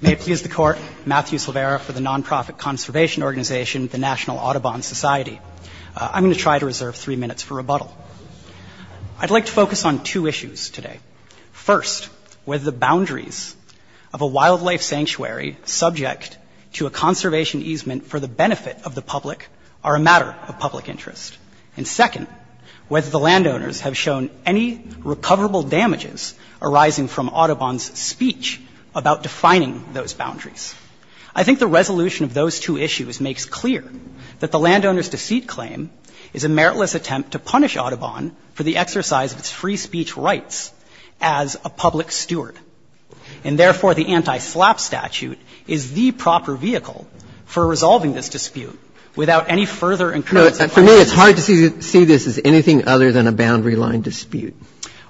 I'm going to try to reserve three minutes for rebuttal. I'd like to focus on two issues today. First, whether the boundaries of a wildlife sanctuary subject to a conservation easement for the benefit of the public are a matter of public interest. And second, whether the landowners have shown any respect for the rights of the public. I think the resolution of those two issues makes clear that the landowner's deceit claim is a meritless attempt to punish Audubon for the exercise of its free speech rights as a public steward. And therefore, the anti-SLAPP statute is the proper vehicle for resolving this dispute without any further incurrence of liability. Breyer. For me, it's hard to see this as anything other than a boundary line dispute.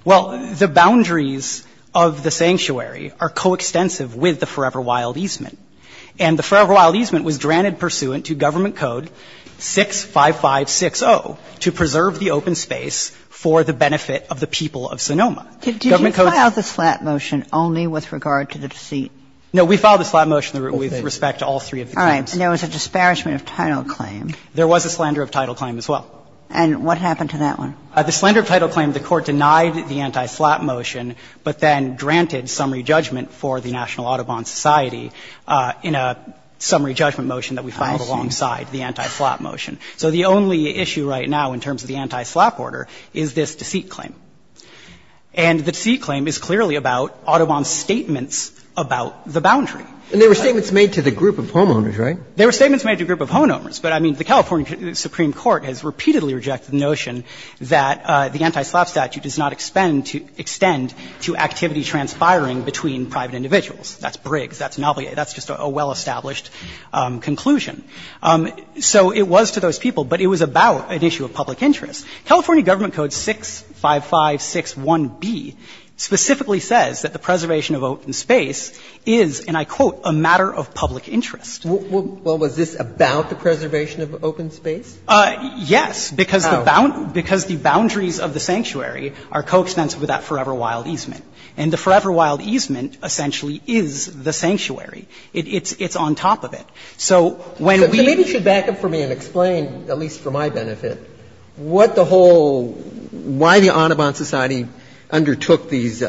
Well, the boundaries of the sanctuary are coextensive with the Forever Wild easement. And the Forever Wild easement was granted pursuant to Government Code 65560 to preserve the open space for the benefit of the people of Sonoma. Government Code's — Did you file the SLAPP motion only with regard to the deceit? No, we filed the SLAPP motion with respect to all three of the claims. All right. And there was a disparagement of title claim. There was a slander of title claim as well. And what happened to that one? The slander of title claim, the Court denied the anti-SLAPP motion, but then granted summary judgment for the National Audubon Society in a summary judgment motion that we filed alongside the anti-SLAPP motion. So the only issue right now in terms of the anti-SLAPP order is this deceit claim. And the deceit claim is clearly about Audubon's statements about the boundary. And there were statements made to the group of homeowners, right? There were statements made to a group of homeowners. But, I mean, the California Supreme Court has repeatedly rejected the notion that the anti-SLAPP statute does not extend to activity transpiring between private individuals. That's Briggs. That's Navier. That's just a well-established conclusion. So it was to those people, but it was about an issue of public interest. California Government Code 65561B specifically says that the preservation of open space is, and I quote, a matter of public interest. Well, was this about the preservation of open space? Yes, because the boundaries of the sanctuary are co-extensive with that forever wild easement. And the forever wild easement essentially is the sanctuary. It's on top of it. So when we need to back up for me and explain, at least for my benefit, what the whole why the Audubon Society undertook these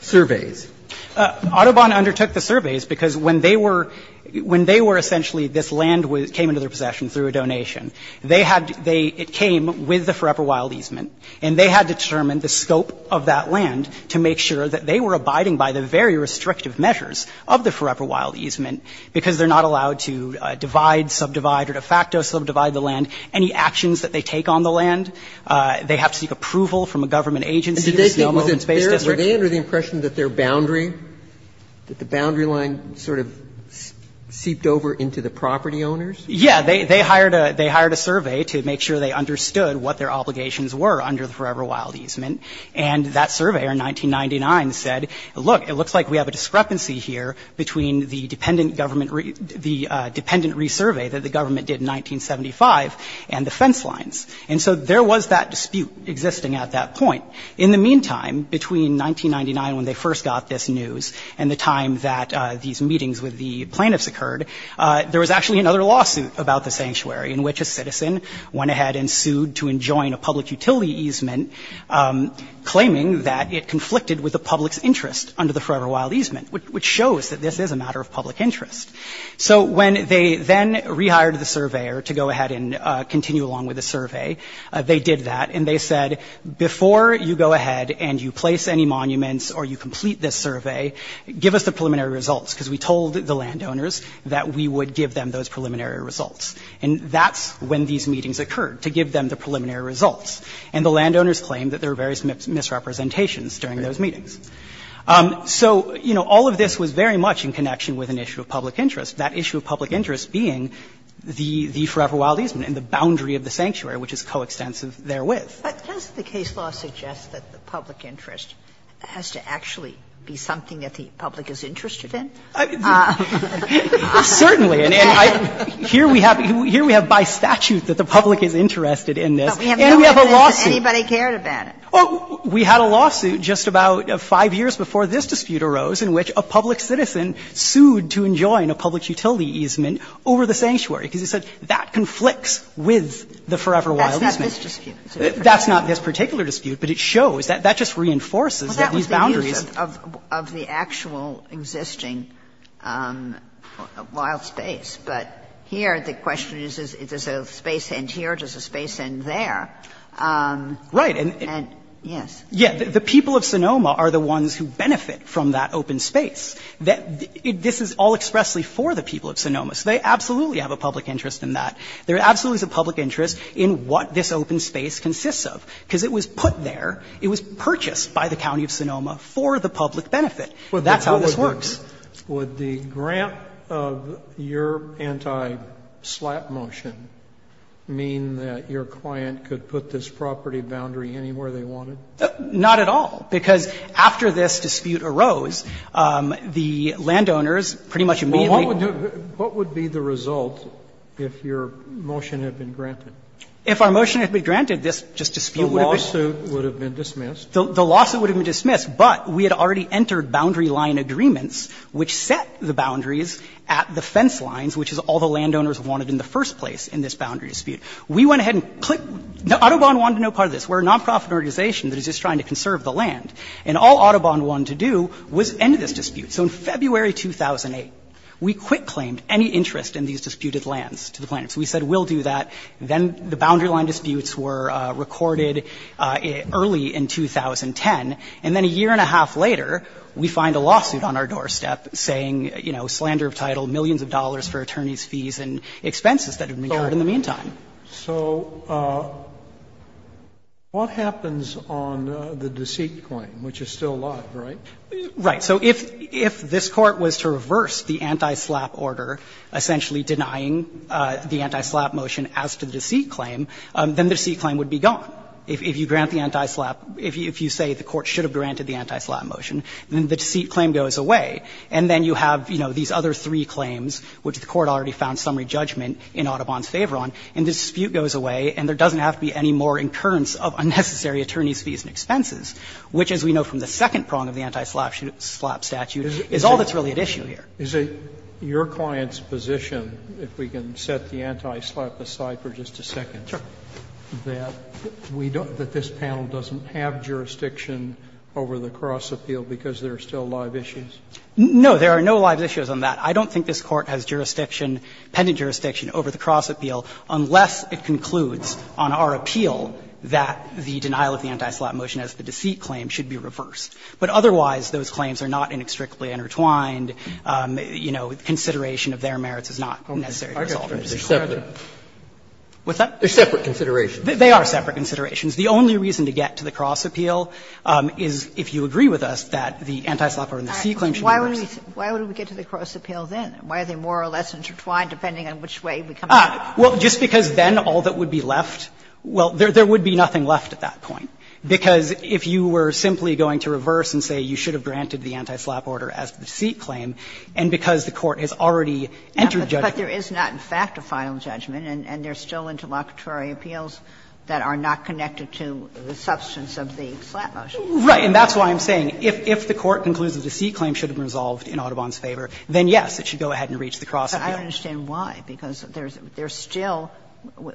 surveys. Audubon undertook the surveys because when they were, when they were essentially this land came into their possession through a donation, they had, they, it came with the forever wild easement. And they had determined the scope of that land to make sure that they were abiding by the very restrictive measures of the forever wild easement, because they're not allowed to divide, subdivide, or de facto subdivide the land, any actions that they take on the land. They have to seek approval from a government agency. And did they think, were they under the impression that their boundary, that the boundary line sort of seeped over into the property owners? Yeah. They hired a, they hired a survey to make sure they understood what their obligations were under the forever wild easement. And that survey in 1999 said, look, it looks like we have a discrepancy here between the dependent government, the dependent resurvey that the government did in 1975 and the fence lines. And so there was that dispute existing at that point. In the meantime, between 1999, when they first got this news, and the time that these meetings with the plaintiffs occurred, there was actually another lawsuit about the sanctuary in which a citizen went ahead and sued to enjoin a public utility easement, claiming that it conflicted with the public's interest under the forever wild easement, which shows that this is a matter of public interest. So when they then rehired the surveyor to go ahead and continue along with the case, they said, you know what, you go ahead and you place any monuments or you complete this survey, give us the preliminary results, because we told the landowners that we would give them those preliminary results. And that's when these meetings occurred, to give them the preliminary results. And the landowners claimed that there were various misrepresentations during those meetings. So, you know, all of this was very much in connection with an issue of public interest, that issue of public interest being the forever wild easement and the boundary of the sanctuary, which is coextensive therewith. Sotomayor, but does the case law suggest that the public interest has to actually be something that the public is interested in? Gershengorn Certainly. And here we have by statute that the public is interested in this, and we have a lawsuit. Sotomayor But we have no evidence that anybody cared about it. Gershengorn Oh, we had a lawsuit just about 5 years before this dispute arose in which a public citizen sued to enjoin a public utility easement over the sanctuary, because he said that conflicts with the forever wild easement. Sotomayor That's not this dispute. Gershengorn That's not this particular dispute, but it shows that that just reinforces Sotomayor Well, that was the use of the actual existing wild space. But here the question is, does a space end here or does a space end there? Gershengorn Right. Sotomayor And yes. Gershengorn Yeah. The people of Sonoma are the ones who benefit from that open space. This is all expressly for the people of Sonoma. So they absolutely have a public interest in that. There absolutely is a public interest in what this open space consists of, because it was put there, it was purchased by the county of Sonoma for the public benefit. That's how this works. Sotomayor Would the grant of your anti-slap motion mean that your client could put this property boundary anywhere they wanted? Gershengorn Not at all. Because after this dispute arose, the landowners pretty much immediately Sotomayor What would be the result if your motion had been granted? Gershengorn If our motion had been granted, this dispute would have been dismissed. Sotomayor The lawsuit would have been dismissed. Gershengorn The lawsuit would have been dismissed, but we had already entered boundary line agreements which set the boundaries at the fence lines, which is all the landowners wanted in the first place in this boundary dispute. We went ahead and clicked. Autobahn wanted no part of this. We're a nonprofit organization that is just trying to conserve the land. And all Autobahn wanted to do was end this dispute. So in February 2008, we quit claimed any interest in these disputed lands to the plaintiffs. We said we'll do that. Then the boundary line disputes were recorded early in 2010. And then a year and a half later, we find a lawsuit on our doorstep saying, you know, slander of title, millions of dollars for attorney's fees and expenses that have been incurred in the meantime. Sotomayor So what happens on the deceit claim, which is still alive, right? Gershengorn Right. So if this Court was to reverse the anti-SLAPP order, essentially denying the anti-SLAPP motion as to the deceit claim, then the deceit claim would be gone. If you grant the anti-SLAPP, if you say the Court should have granted the anti-SLAPP motion, then the deceit claim goes away. And then you have, you know, these other three claims, which the Court already found summary judgment in Autobahn's favor on, and the dispute goes away, and there doesn't have to be any more incurrence of unnecessary attorney's fees and expenses, which, as we know from the second prong of the anti-SLAPP statute, is all that's really at issue here. Sotomayor Is it your client's position, if we can set the anti-SLAPP aside for just a second, that we don't, that this panel doesn't have jurisdiction over the cross appeal because there are still live issues? Gershengorn No, there are no live issues on that. I don't think this Court has jurisdiction, pendant jurisdiction over the cross appeal unless it concludes on our appeal that the denial of the anti-SLAPP motion as the deceit claim should be reversed. But otherwise, those claims are not inextricably intertwined. You know, consideration of their merits is not necessary to resolve it. Breyer What's that? They're separate considerations. Gershengorn They are separate considerations. The only reason to get to the cross appeal is, if you agree with us, that the anti-SLAPP or the deceit claim should be reversed. Kagan Why would we get to the cross appeal then? Why are they more or less intertwined, depending on which way we come at it? Gershengorn Well, just because then all that would be left, well, there would be nothing left at that point, because if you were simply going to reverse and say you should have granted the anti-SLAPP order as the deceit claim, and because the Court has already entered judgment. Kagan But there is not, in fact, a final judgment, and there's still interlocutory appeals that are not connected to the substance of the SLAPP motion. Gershengorn Right. And that's why I'm saying, if the Court concludes the deceit claim should have been resolved in Audubon's favor, then, yes, it should go ahead and reach the cross appeal. Kagan But I don't understand why, because there's still,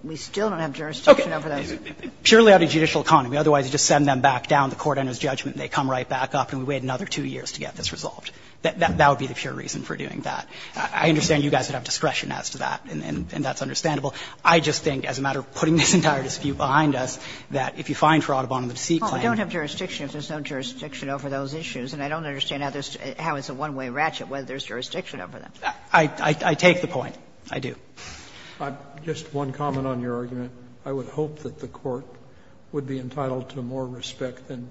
we still don't have jurisdiction Gershengorn Okay. Purely out of judicial economy. Otherwise, you just send them back down, the Court enters judgment, and they come right back up, and we wait another two years to get this resolved. That would be the pure reason for doing that. I understand you guys would have discretion as to that, and that's understandable. I just think, as a matter of putting this entire dispute behind us, that if you find for Audubon the deceit claim. Kagan Well, we don't have jurisdiction if there's no jurisdiction over those issues, and I don't understand how there's a one-way ratchet whether there's jurisdiction over them. I take the point. I do. Scalia Just one comment on your argument. I would hope that the Court would be entitled to more respect than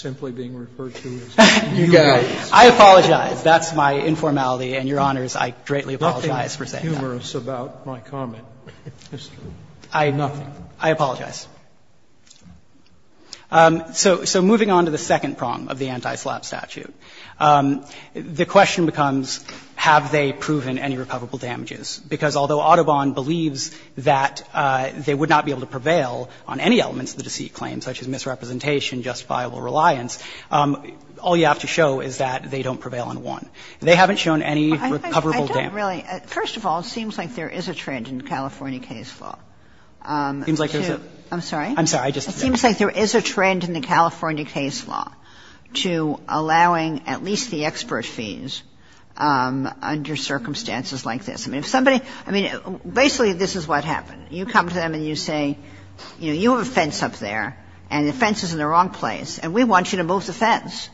simply being referred to as new guys. Kagan I apologize. That's my informality, and, Your Honors, I greatly apologize for saying that. Scalia Nothing humorous about my comment. Nothing. Kagan I apologize. So moving on to the second prong of the anti-SLAPP statute, the question becomes, have they proven any recoverable damages? Because although Audubon believes that they would not be able to prevail on any elements of the deceit claim, such as misrepresentation, justifiable reliance, all you have to show is that they don't prevail on one. They haven't shown any recoverable damages. Kagan I don't really. First of all, it seems like there is a trend in California case law. It seems like there's a trend in the California case law to allowing at least the expert fees under circumstances like this. I mean, if somebody, I mean, basically this is what happened. You come to them and you say, you know, you have a fence up there, and the fence is in the wrong place, and we want you to move the fence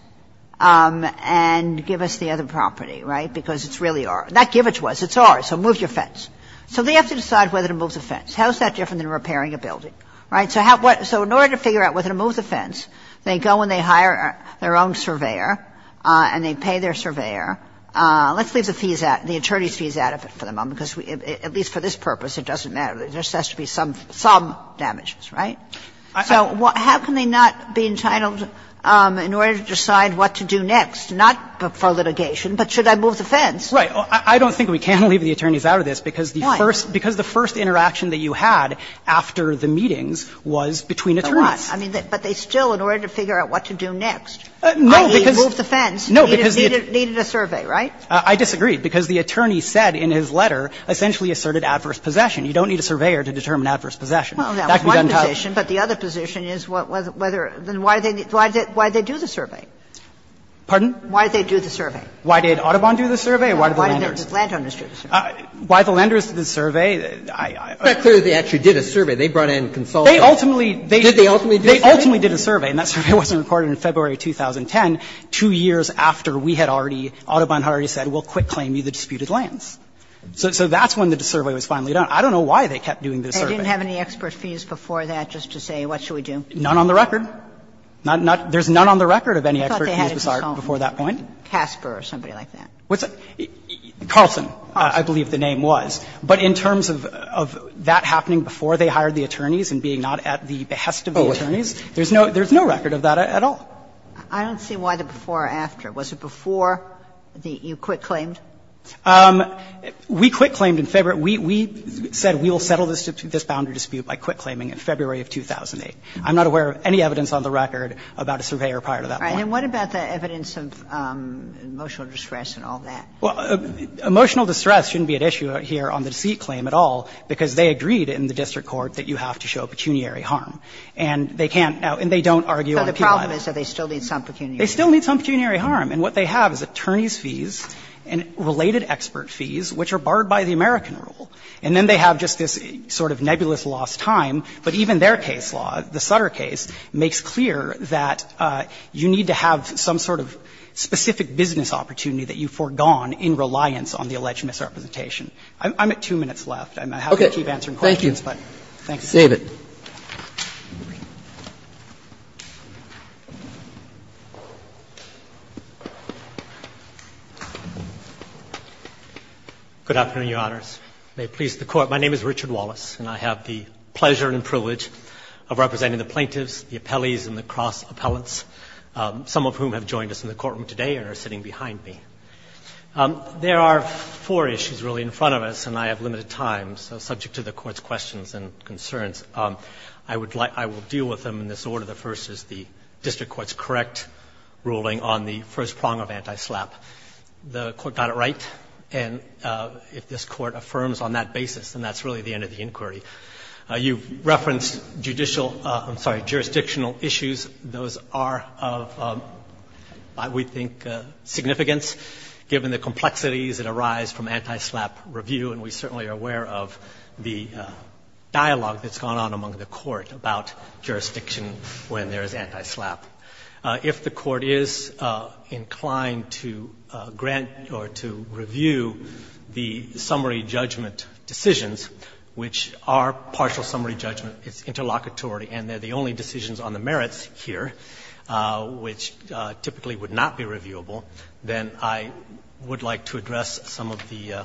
and give us the other property, right, because it's really ours. Not give it to us. It's ours. So move your fence. So they have to decide whether to move the fence. How is that different than repairing a building, right? So in order to figure out whether to move the fence, they go and they hire their own surveyor. Let's leave the fees out, the attorney's fees out of it for the moment, because we, at least for this purpose, it doesn't matter. There has to be some damages, right? So how can they not be entitled in order to decide what to do next, not for litigation, but should I move the fence? Right. I don't think we can leave the attorneys out of this because the first, because the first interaction that you had after the meetings was between attorneys. But they still, in order to figure out what to do next, i.e., move the fence, needed a survey, right? I disagree, because the attorney said in his letter essentially asserted adverse possession. You don't need a surveyor to determine adverse possession. Well, that was one position, but the other position is whether, why did they do the survey? Pardon? Why did they do the survey? Why did Audubon do the survey or why did the landowners? Why did the landowners do the survey? Why the landowners did the survey, I... It's not clear that they actually did a survey. They brought in consultants. They ultimately. Did they ultimately do the survey? They ultimately did a survey, and that survey wasn't recorded in February 2010, two years after we had already, Audubon had already said, well, quit claiming the disputed lands. So that's when the survey was finally done. I don't know why they kept doing the survey. They didn't have any expert fees before that just to say what should we do? None on the record. There's none on the record of any expert fees before that point. I thought they had a consultant, Casper or somebody like that. Carlson, I believe the name was. But in terms of that happening before they hired the attorneys and being not at the behest of the attorneys, there's no record of that at all. I don't see why the before or after. Was it before you quit claimed? We quit claimed in February. We said we will settle this boundary dispute by quit claiming in February of 2008. I'm not aware of any evidence on the record about a surveyor prior to that point. All right. And what about the evidence of emotional distress and all that? Well, emotional distress shouldn't be at issue here on the deceit claim at all, because they agreed in the district court that you have to show pecuniary harm. And they can't. And they don't argue on a P-line. So the problem is that they still need some pecuniary harm. They still need some pecuniary harm. And what they have is attorneys' fees and related expert fees, which are barred by the American rule. And then they have just this sort of nebulous lost time. But even their case law, the Sutter case, makes clear that you need to have some sort of specific business opportunity that you've foregone in reliance on the alleged misrepresentation. I'm at two minutes left. I'm happy to keep answering questions, but thank you. Roberts. David. Good afternoon, Your Honors. May it please the Court. My name is Richard Wallace, and I have the pleasure and privilege of representing the plaintiffs, the appellees, and the cross-appellants, some of whom have joined us in the courtroom today and are sitting behind me. There are four issues really in front of us, and I have limited time. So subject to the Court's questions and concerns, I would like to deal with them in this order. The first is the district court's correct ruling on the first prong of anti-SLAPP. The Court got it right. And if this Court affirms on that basis, then that's really the end of the inquiry. You referenced judicial — I'm sorry, jurisdictional issues. Those are of, we think, significance, given the complexities that arise from anti-SLAPP review, and we certainly are aware of the dialogue that's gone on among the Court about jurisdiction when there is anti-SLAPP. If the Court is inclined to grant or to review the summary judgment decisions, which are partial summary judgment, it's interlocutory, and they're the only decisions on the merits here, which typically would not be reviewable, then I would like to address some of the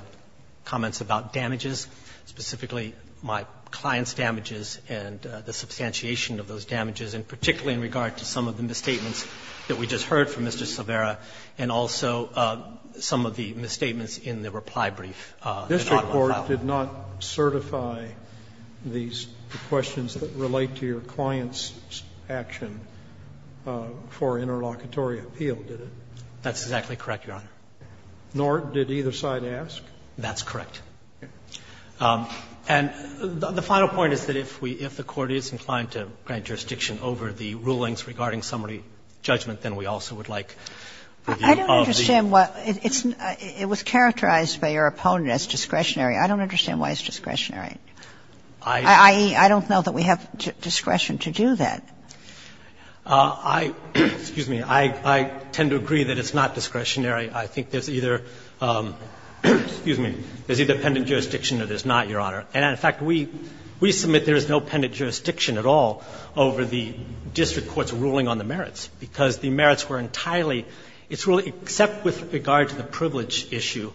comments about damages, specifically my client's damages and the substantiation of those damages, and particularly in regard to some of the misstatements that we just heard from Mr. Silvera, and also some of the misstatements in the reply brief. Sotomayor did not certify these questions that relate to your client's action for interlocutory That's exactly correct, Your Honor. Nor did either side ask? That's correct. And the final point is that if we — if the Court is inclined to grant jurisdiction over the rulings regarding summary judgment, then we also would like review of the I don't understand what — it was characterized by your opponent as discretionary. I don't understand why it's discretionary, i.e., I don't know that we have discretion to do that. I — excuse me — I tend to agree that it's not discretionary. I think there's either — excuse me — there's either pendent jurisdiction or there's not, Your Honor. And, in fact, we — we submit there is no pendent jurisdiction at all over the district court's ruling on the merits, because the merits were entirely — it's really — except with regard to the privilege issue,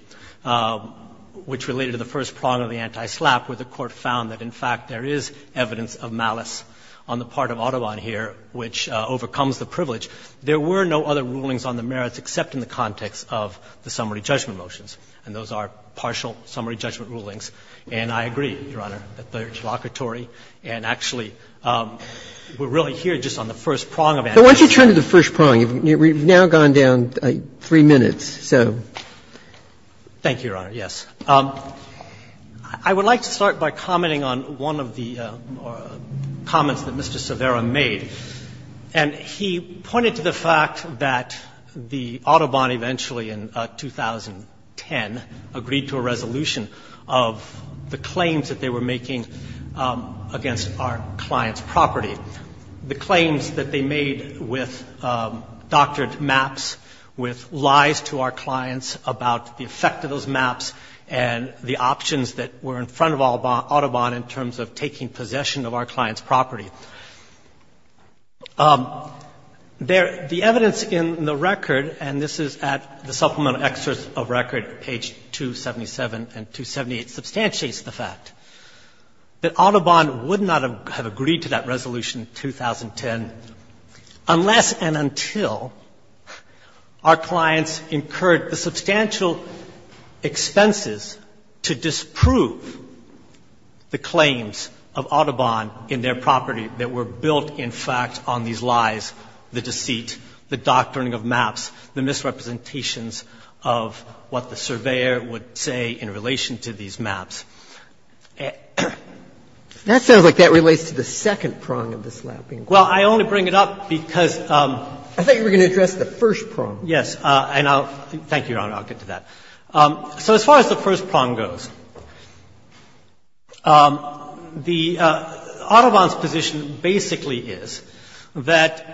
which related to the first prong of the anti-SLAPP, where the Court found that, in fact, there is evidence of malice on the part of Audubon here, which overcomes the privilege, there were no other rulings on the merits except in the context of the summary judgment motions. And those are partial summary judgment rulings. And I agree, Your Honor, that they're derogatory. And actually, we're really here just on the first prong of anti-SLAPP. Roberts, we've now gone down three minutes, so. Thank you, Your Honor, yes. I would like to start by commenting on one of the comments that Mr. Severa made. And he pointed to the fact that the Audubon eventually, in 2010, agreed to a resolution of the claims that they were making against our client's property, the claims that they made with doctored maps, with lies to our clients about the effect of those maps and the options that were in front of Audubon in terms of taking possession of our client's property. The evidence in the record, and this is at the supplemental excerpt of record, page 277 and 278, substantiates the fact that Audubon would not have agreed to that resolution in 2010 unless and until our clients incurred the substantial expenses to disprove the claims of Audubon in their property that were built, in fact, on these lies, the deceit, the doctrining of maps, the misrepresentations of what the surveyor would say in relation to these maps. That sounds like that relates to the second prong of the SLAPP inquiry. Well, I only bring it up because of the first prong. Yes, and I'll – thank you, Your Honor. I'll get to that. So as far as the first prong goes, the – Audubon's position basically is that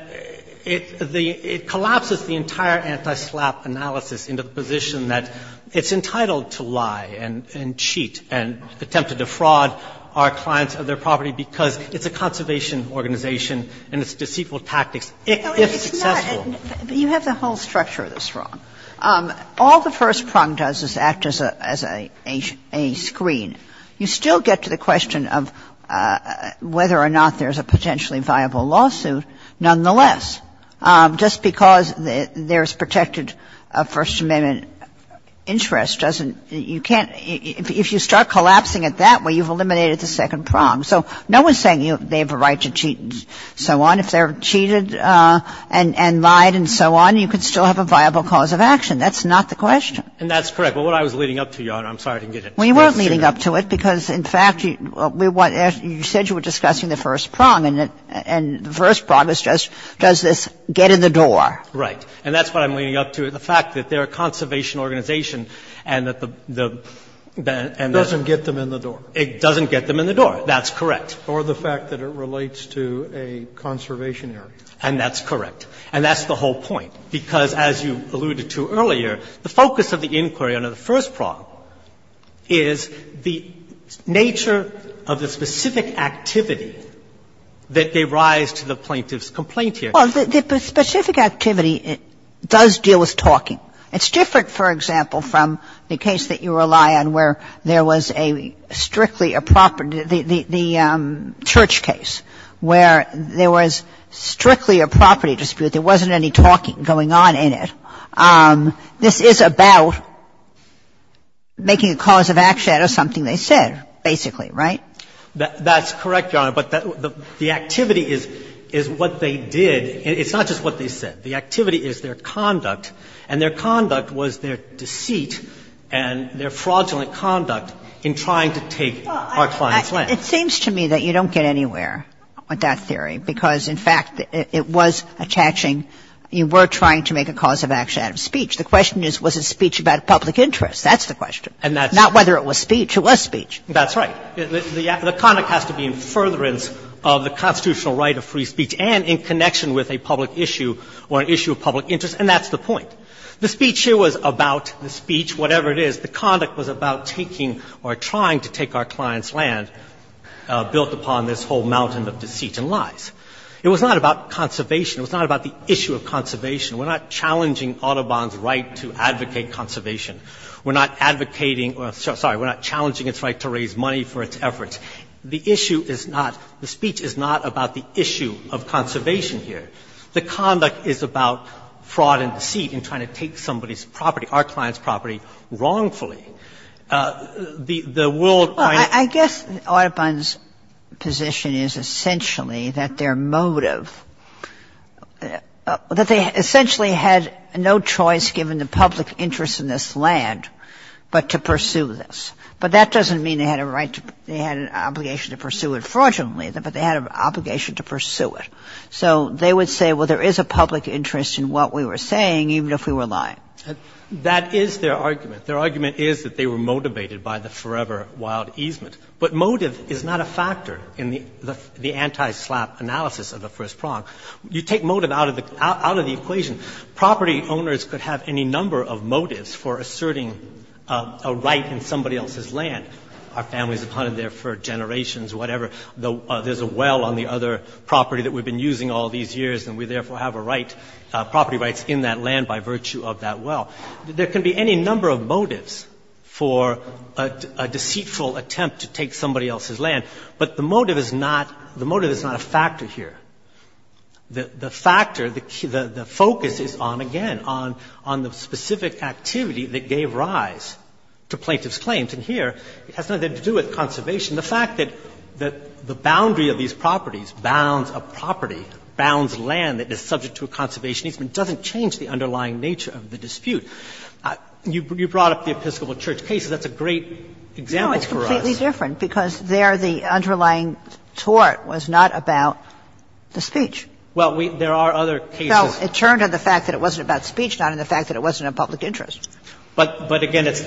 it collapses the entire anti-SLAPP analysis into the position that it's entitled to lie and cheat and attempt to defraud our clients of their property because it's a conservation organization and its deceitful tactics, if successful. No, it's not. You have the whole structure of this wrong. All the first prong does is act as a screen. You still get to the question of whether or not there's a potentially viable lawsuit nonetheless. Just because there's protected First Amendment interest doesn't – you can't – if you start collapsing it that way, you've eliminated the second prong. So no one's saying they have a right to cheat and so on. If they're cheated and lied and so on, you could still have a viable cause of action. That's not the question. And that's correct. But what I was leading up to, Your Honor – I'm sorry, I didn't get it. We weren't leading up to it because, in fact, you said you were discussing the first prong, and the first prong is just does this get in the door. Right. And that's what I'm leading up to. The fact that they're a conservation organization and that the – Doesn't get them in the door. It doesn't get them in the door. That's correct. Or the fact that it relates to a conservation area. And that's correct. And that's the whole point. Because, as you alluded to earlier, the focus of the inquiry under the first prong is the nature of the specific activity that gave rise to the plaintiff's complaint here. Well, the specific activity does deal with talking. It's different, for example, from the case that you rely on where there was a strictly a property – the church case where there was strictly a property dispute. There wasn't any talking going on in it. This is about making a cause of action out of something they said, basically. Right? That's correct, Your Honor. But the activity is what they did. It's not just what they said. The activity is their conduct, and their conduct was their deceit and their fraudulent conduct in trying to take our client's land. It seems to me that you don't get anywhere with that theory because, in fact, it was attaching – you were trying to make a cause of action out of speech. The question is, was it speech about public interest? That's the question. Not whether it was speech. It was speech. That's right. The conduct has to be in furtherance of the constitutional right of free speech and in connection with a public issue or an issue of public interest. And that's the point. The speech here was about the speech, whatever it is. The conduct was about taking or trying to take our client's land built upon this whole mountain of deceit and lies. It was not about conservation. It was not about the issue of conservation. We're not challenging Audubon's right to advocate conservation. We're not advocating – sorry, we're not challenging its right to raise money for its efforts. The issue is not – the speech is not about the issue of conservation here. The conduct is about fraud and deceit in trying to take somebody's property, our client's property, wrongfully. The world kind of – Well, I guess Audubon's position is essentially that their motive, that they essentially had no choice given the public interest in this land but to pursue this. But that doesn't mean they had a right to – they had an obligation to pursue it fraudulently, but they had an obligation to pursue it. So they would say, well, there is a public interest in what we were saying even if we were lying. That is their argument. Their argument is that they were motivated by the forever wild easement. But motive is not a factor in the anti-SLAPP analysis of the first prong. You take motive out of the equation. Property owners could have any number of motives for asserting a right in somebody else's land. Our families have hunted there for generations, whatever. There's a well on the other property that we've been using all these years, and we therefore have a right, property rights in that land by virtue of that well. There can be any number of motives for a deceitful attempt to take somebody else's land, but the motive is not – the motive is not a factor here. The factor, the focus is on, again, on the specific activity that gave rise to plaintiff's claims. And here it has nothing to do with conservation. The fact that the boundary of these properties bounds a property, bounds land that is subject to a conservation easement, doesn't change the underlying nature of the dispute. You brought up the Episcopal Church case. That's a great example for us. Kagan. No, it's completely different because there the underlying tort was not about the speech. Well, there are other cases. Well, it turned on the fact that it wasn't about speech, not on the fact that it wasn't a public interest. But again, it's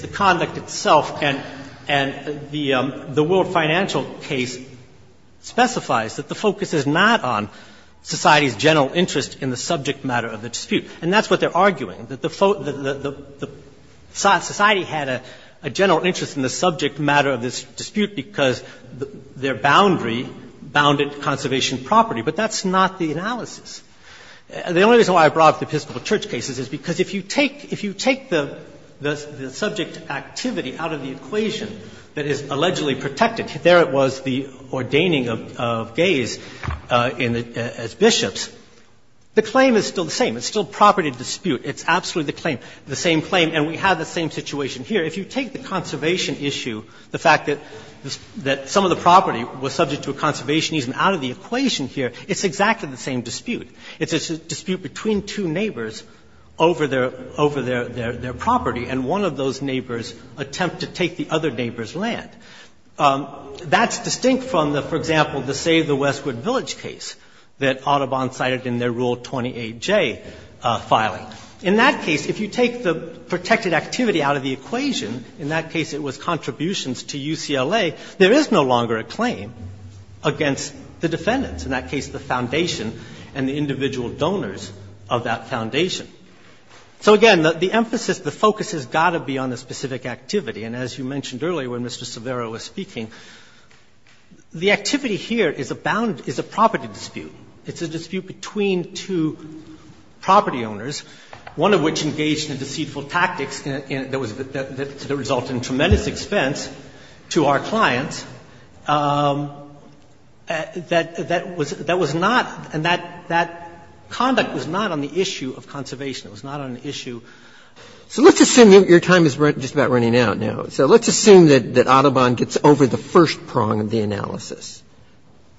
the conduct itself, and the World Financial case specifies that the focus is not on society's general interest in the subject matter of the dispute. And that's what they're arguing, that the society had a general interest in the subject matter of this dispute because their boundary bounded conservation property. But that's not the analysis. The only reason why I brought up the Episcopal Church case is because if you take the subject activity out of the equation that is allegedly protected, there it was, the ordaining of gays as bishops, the claim is still the same. It's still property dispute. It's absolutely the same claim. And we have the same situation here. If you take the conservation issue, the fact that some of the property was subject to a conservation easement out of the equation here, it's exactly the same dispute. It's a dispute between two neighbors over their property, and one of those neighbors attempt to take the other neighbor's land. That's distinct from the, for example, the Save the Westwood Village case that Audubon cited in their Rule 28J filing. In that case, if you take the protected activity out of the equation, in that case it was contributions to UCLA, there is no longer a claim against the defendants, in that case the foundation and the individual donors of that foundation. So again, the emphasis, the focus has got to be on the specific activity. And as you mentioned earlier when Mr. Severo was speaking, the activity here is a property dispute. It's a dispute between two property owners, one of which engaged in deceitful And that conduct was not on the issue of conservation. It was not on the issue. So let's assume your time is just about running out now. So let's assume that Audubon gets over the first prong of the analysis.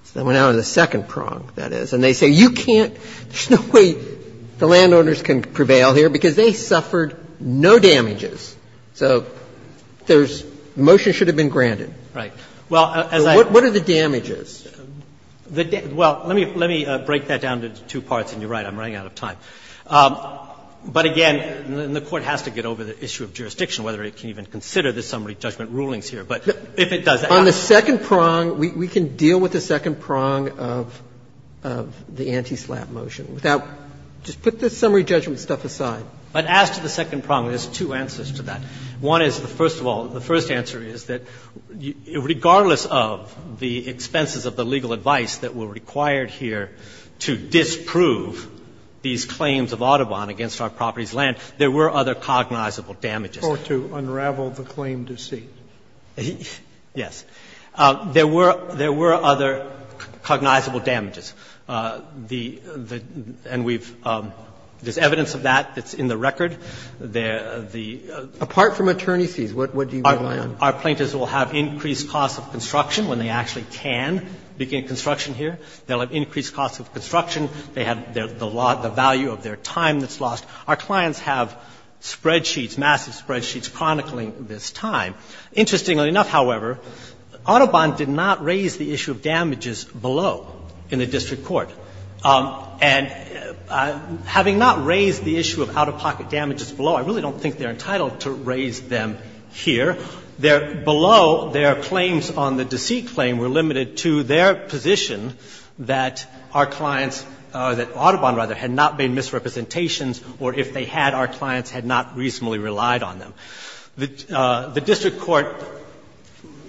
So they went out on the second prong, that is. And they say you can't, there's no way the landowners can prevail here because they suffered no damages. So there's, the motion should have been granted. Right. Well, as I. What are the damages? Well, let me break that down into two parts, and you're right, I'm running out of time. But again, the Court has to get over the issue of jurisdiction, whether it can even consider the summary judgment rulings here. But if it does. On the second prong, we can deal with the second prong of the anti-SLAPP motion without, just put the summary judgment stuff aside. But as to the second prong, there's two answers to that. One is, first of all, the first answer is that regardless of the expenses of the legal advice that were required here to disprove these claims of Audubon against our property's land, there were other cognizable damages. Or to unravel the claim deceit. Yes. There were other cognizable damages. The, and we've, there's evidence of that that's in the record. Apart from attorney fees, what do you rely on? Our plaintiffs will have increased costs of construction when they actually can begin construction here. They'll have increased costs of construction. They have the value of their time that's lost. Our clients have spreadsheets, massive spreadsheets chronicling this time. Interestingly enough, however, Audubon did not raise the issue of damages below in the district court. And having not raised the issue of out-of-pocket damages below, I really don't think they're entitled to raise them here. Below, their claims on the deceit claim were limited to their position that our clients, that Audubon, rather, had not made misrepresentations or if they had, our clients had not reasonably relied on them. The district court,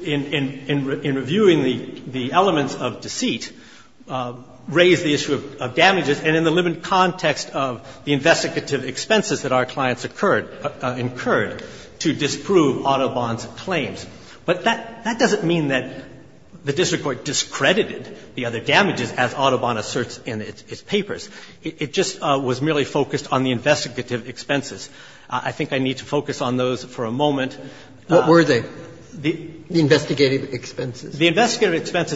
in reviewing the elements of deceit, raised the issue of damages and in the limited context of the investigative expenses that our clients occurred or incurred to disprove Audubon's claims. But that, that doesn't mean that the district court discredited the other damages as Audubon asserts in its papers. It just was merely focused on the investigative expenses. I think I need to focus on those for a moment. The investigative expenses.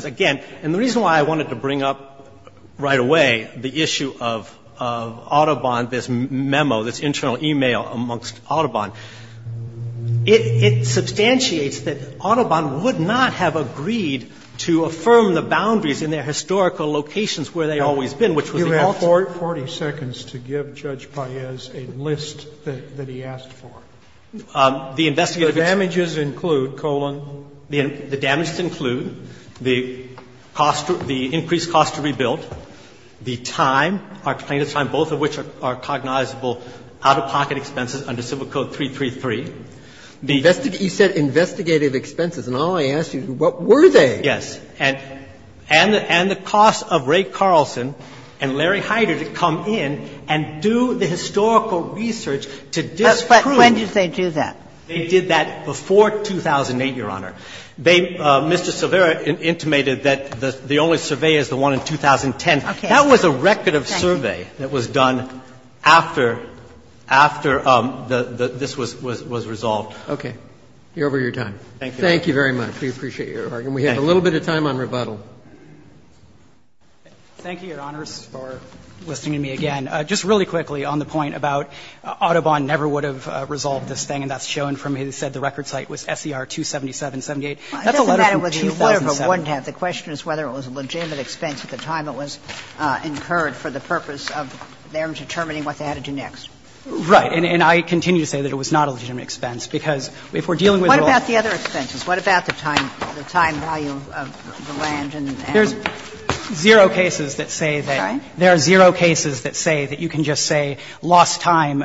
Again, and the reason why I wanted to bring up right away the issue of Audubon, this memo, this internal e-mail amongst Audubon, it substantiates that Audubon would not have agreed to affirm the boundaries in their historical locations where they had always been, which was the ultimate. Sotomayor, you have 40 seconds to give Judge Paez a list that he asked for. The investigative expenses. The damages include, colon. The damages include. The cost to the increased cost to rebuild. The time, our plaintiff's time, both of which are cognizable out-of-pocket expenses under Civil Code 333. The investigative expenses. And all I asked you, what were they? Yes. And the costs of Ray Carlson and Larry Heider to come in and do the historical research to disprove. But when did they do that? They did that before 2008, Your Honor. They, Mr. Silveira intimated that the only survey is the one in 2010. That was a record of survey that was done after, after this was resolved. Roberts. Okay. You're over your time. Thank you. Thank you very much. We appreciate your argument. We have a little bit of time on rebuttal. Thank you, Your Honors, for listening to me again. Just really quickly on the point about Audubon never would have resolved this thing, and that's shown from, as you said, the record site was SER 27778. That's a letter from 2007. The question is whether it was a legitimate expense at the time it was incurred for the purpose of them determining what they had to do next. Right. And I continue to say that it was not a legitimate expense, because if we're dealing with real life cases. What about the other expenses? What about the time, the time value of the land? There's zero cases that say that, there are zero cases that say that you can just say lost time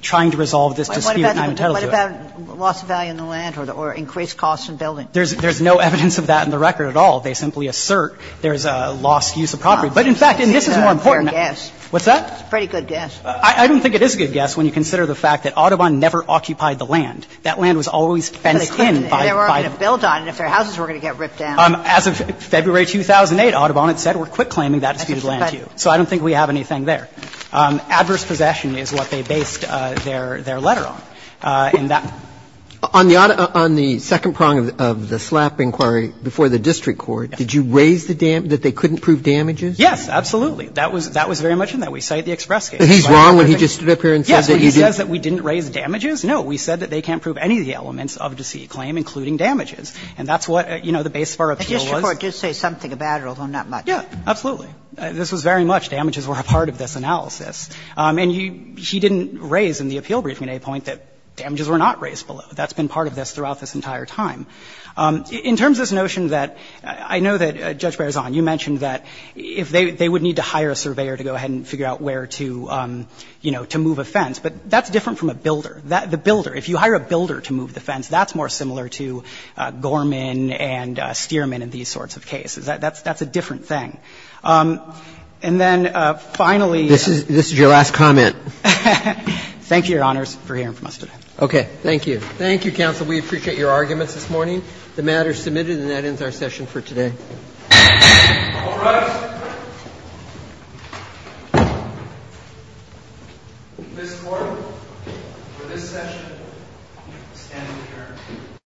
trying to resolve this dispute. I'm entitled to it. What about loss of value in the land or increased cost in building? There's no evidence of that in the record at all. They simply assert there's a lost use of property. But in fact, and this is more important. Fair guess. What's that? Pretty good guess. I don't think it is a good guess when you consider the fact that Audubon never occupied the land. That land was always fenced in by. They weren't going to build on it if their houses were going to get ripped down. As of February 2008, Audubon had said we're quit claiming that disputed land to you. So I don't think we have anything there. Adverse possession is what they based their letter on. And that. On the second prong of the SLAPP inquiry before the district court, did you raise that they couldn't prove damages? Yes, absolutely. That was very much in there. We cite the express case. But he's wrong when he just stood up here and said that he didn't. Yes, when he says that we didn't raise damages, no. We said that they can't prove any of the elements of a deceit claim, including damages. And that's what, you know, the base of our appeal was. The district court did say something about it, although not much. Yeah, absolutely. This was very much damages were a part of this analysis. And he didn't raise in the appeal briefing at any point that damages were not raised below. That's been part of this throughout this entire time. In terms of this notion that I know that Judge Berzon, you mentioned that if they would need to hire a surveyor to go ahead and figure out where to, you know, to move a fence. But that's different from a builder. The builder, if you hire a builder to move the fence, that's more similar to Gorman and Stearman in these sorts of cases. That's a different thing. And then finally. This is your last comment. Thank you, Your Honors, for hearing from us today. Okay. Thank you. Thank you, counsel. We appreciate your arguments this morning. The matter is submitted and that ends our session for today. All rise. This Court, for this session, stands adjourned.